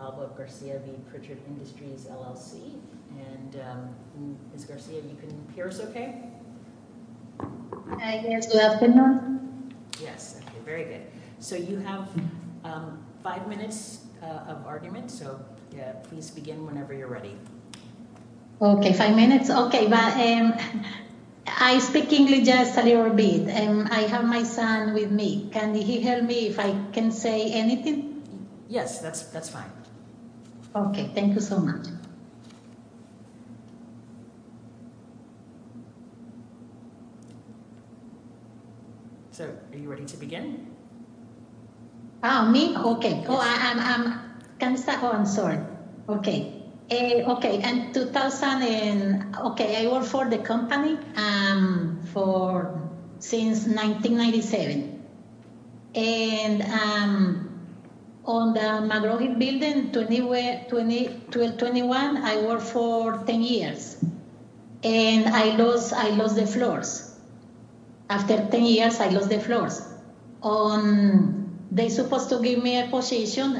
Alba Garcia v. Pritchard Industries LLC. And Ms. Garcia, you can hear us okay? Hi, yes, good afternoon. Yes, okay, very good. So you have five minutes of argument, so please begin whenever you're ready. Okay, five minutes. Okay, but I speak English just a little bit and I have my son with me. Can he help me if I can say anything? Yes, that's fine. Okay, thank you so much. So are you ready to begin? Oh, me? Okay. Oh, I'm sorry. Okay, I work for the company since 1997. And on the McGraw-Hill building, 2021, I worked for 10 years. And I lost the floors. After 10 years, I lost the floors. They supposed to give me a position.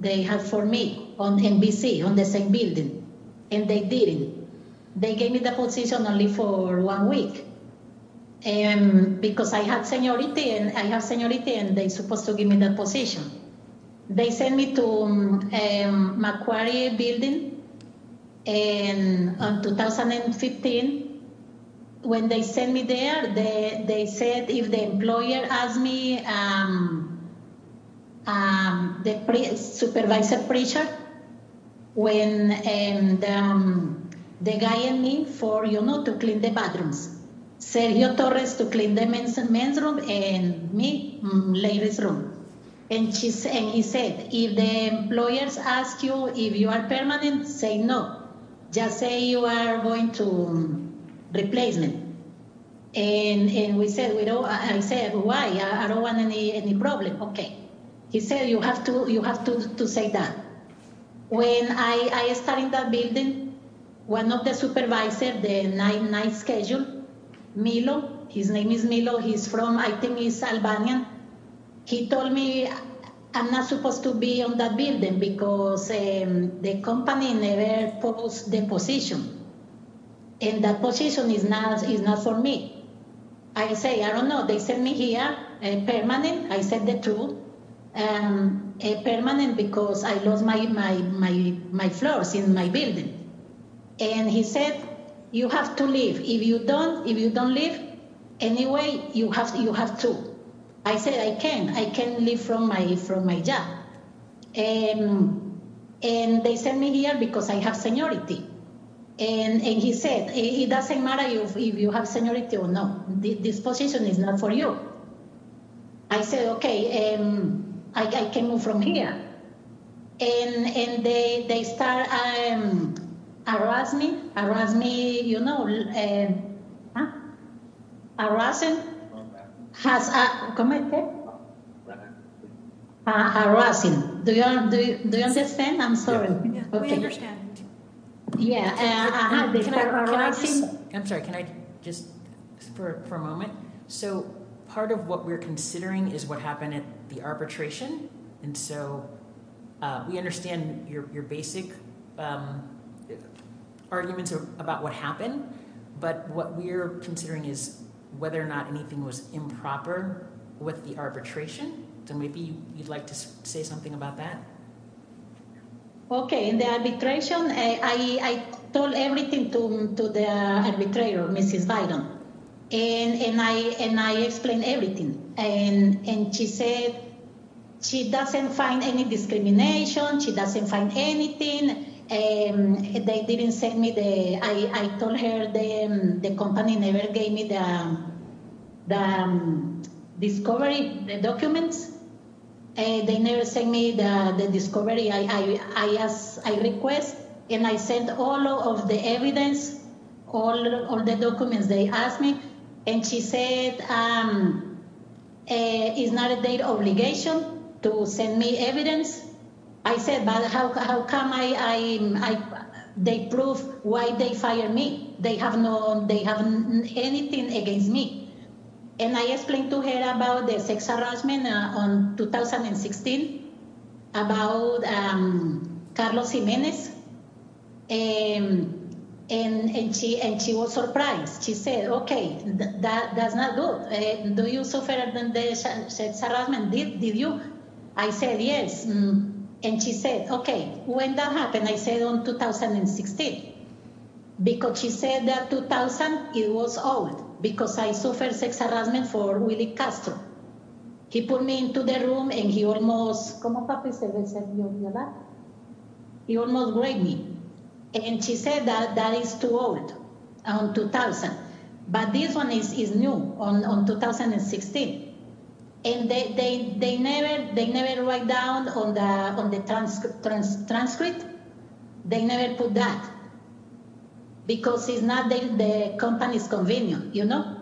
They have for me on NBC, on the same building, and they didn't. They gave me the position only for one week. And because I had seniority, and I have seniority, and they supposed to give me that position. They sent me to Macquarie building in 2015. When they sent me there, they said if the employer ask me, the supervisor preacher, when the guy in me for, you know, to clean the bathrooms, said your daughter is to clean the men's room and me, ladies room. And he said, if the employers ask you if you are permanent, say no. Just say you are going to replace me. And we said, why? I don't want any problem. Okay. He said you have to say that. When I started that building, one of the supervisors, the night schedule, Milo, his name is Milo. He's from Albania. He told me I'm not supposed to be on that building because the company never post the position. And that position is not for me. I say, I don't know. They sent me here, a permanent. I said the truth. A permanent because I lost my floors in my building. And he said, you have to leave. If you don't leave, anyway, you have to. I said I can. I can leave from my job. And they sent me here because I have seniority. And he said, it doesn't matter if you have seniority or not. This position is not for you. I said, okay, I can move from here. And they start harassing me. Do you understand? I'm sorry. We understand. I'm sorry. Can I just for a moment? So part of what we're considering is what happened at the We understand your basic arguments about what happened. But what we're considering is whether or not anything was improper with the arbitration. So maybe you'd like to say something about that. Okay. In the arbitration, I told everything to the arbitrator, Mrs. Biden. And I explained everything. And she said she doesn't find any discrimination. She doesn't find anything. They didn't send me the, I told her the company never gave me the discovery, the documents. They never sent me the discovery. I asked, I request, and I sent all of the evidence, all of the documents they asked me. And she said, it's not their obligation to send me evidence. I said, but how come they prove why they fired me? They have no, they have anything against me. And I explained to her about the sex harassment on 2016, about Carlos Jimenez. And she was surprised. She said, okay, that's not good. Do you suffer from the sex harassment? Did you? I said, yes. And she said, okay, when that happened, I said on 2016. Because she said that 2000, it was old because I suffered sex harassment for Willie Castro. He put me into the room and he almost, he almost raped me. And she said that that is too old, on 2000. But this one is new, on 2016. And they never write down on the transcript. They never put that. Because it's not the company's convenience, you know?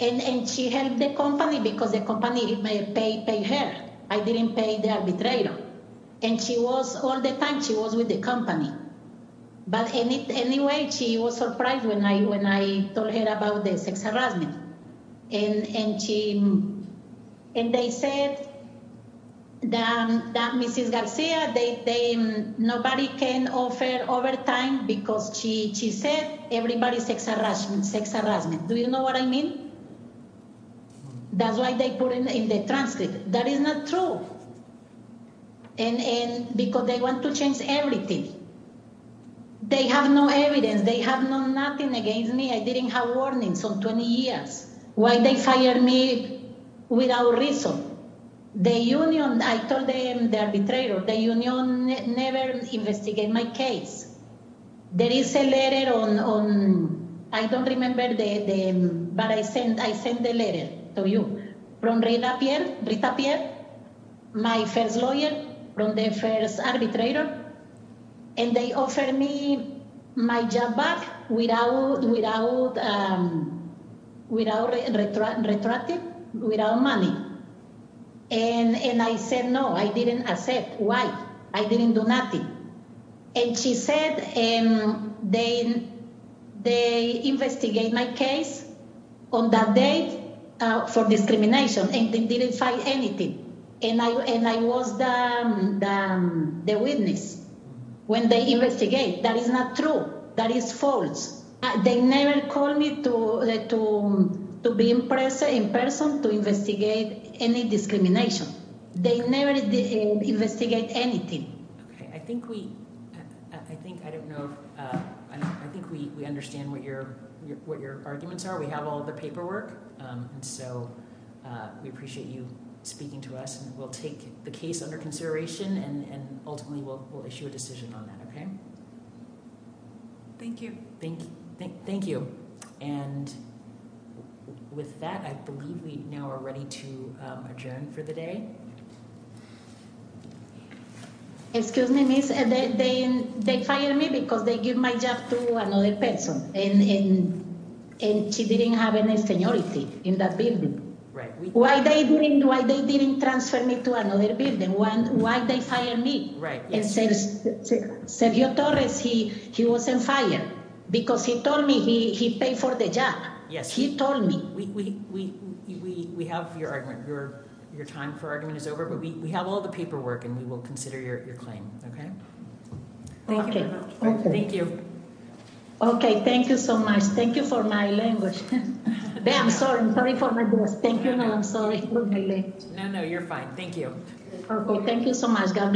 And she helped the company because the company paid her. I didn't pay the arbitrator. And she was all the time, she was with the company. But anyway, she was surprised when I told her about the sex harassment. And they said that Mrs. Garcia, nobody can offer overtime because she said, everybody sex harassment, sex harassment. Do you know what I mean? That's why they put it in the transcript. That is not true. And because they want to change everything. They have no evidence. They have no nothing against me. I didn't have warnings on 20 years. Why they fired me without reason? The union, I told them, the arbitrator, the union never investigated my case. There is a letter on, I don't remember the, but I sent the letter to you from Rita Pierre, my first lawyer, from the first arbitrator. And they offered me my job back without retracting, without money. And I said no, I didn't accept. Why? I didn't do nothing. And she said, they investigate my case on that day for discrimination and they didn't find anything. And I was the witness. When they investigate, that is not true. That is false. They never called me to be in person to investigate any discrimination. They never did investigate anything. Okay. I think we, I think, I don't know if, I think we understand what your, what your arguments are. We have all the paperwork. And so we appreciate you speaking to us and we'll take the case under consideration and ultimately we'll issue a decision on that. Okay. Thank you. Thank you. And with that, I believe we now are ready to adjourn for the day. Excuse me, miss. They fired me because they give my job to another person and she didn't have any seniority in that building. Right. Why they didn't, why they didn't transfer me to another building? Why they fired me? Right. And Sergio Torres, he was on fire because he told me he paid for the job. Yes. He told me. We have your time for argument is over, but we have all the paperwork and we will consider your claim. Okay. Thank you. Okay. Thank you. Okay. Thank you so much. Thank you for my language. I'm sorry. I'm sorry for my voice. Thank you. No, I'm sorry. No, no, you're fine. Thank you. Thank you so much. God bless.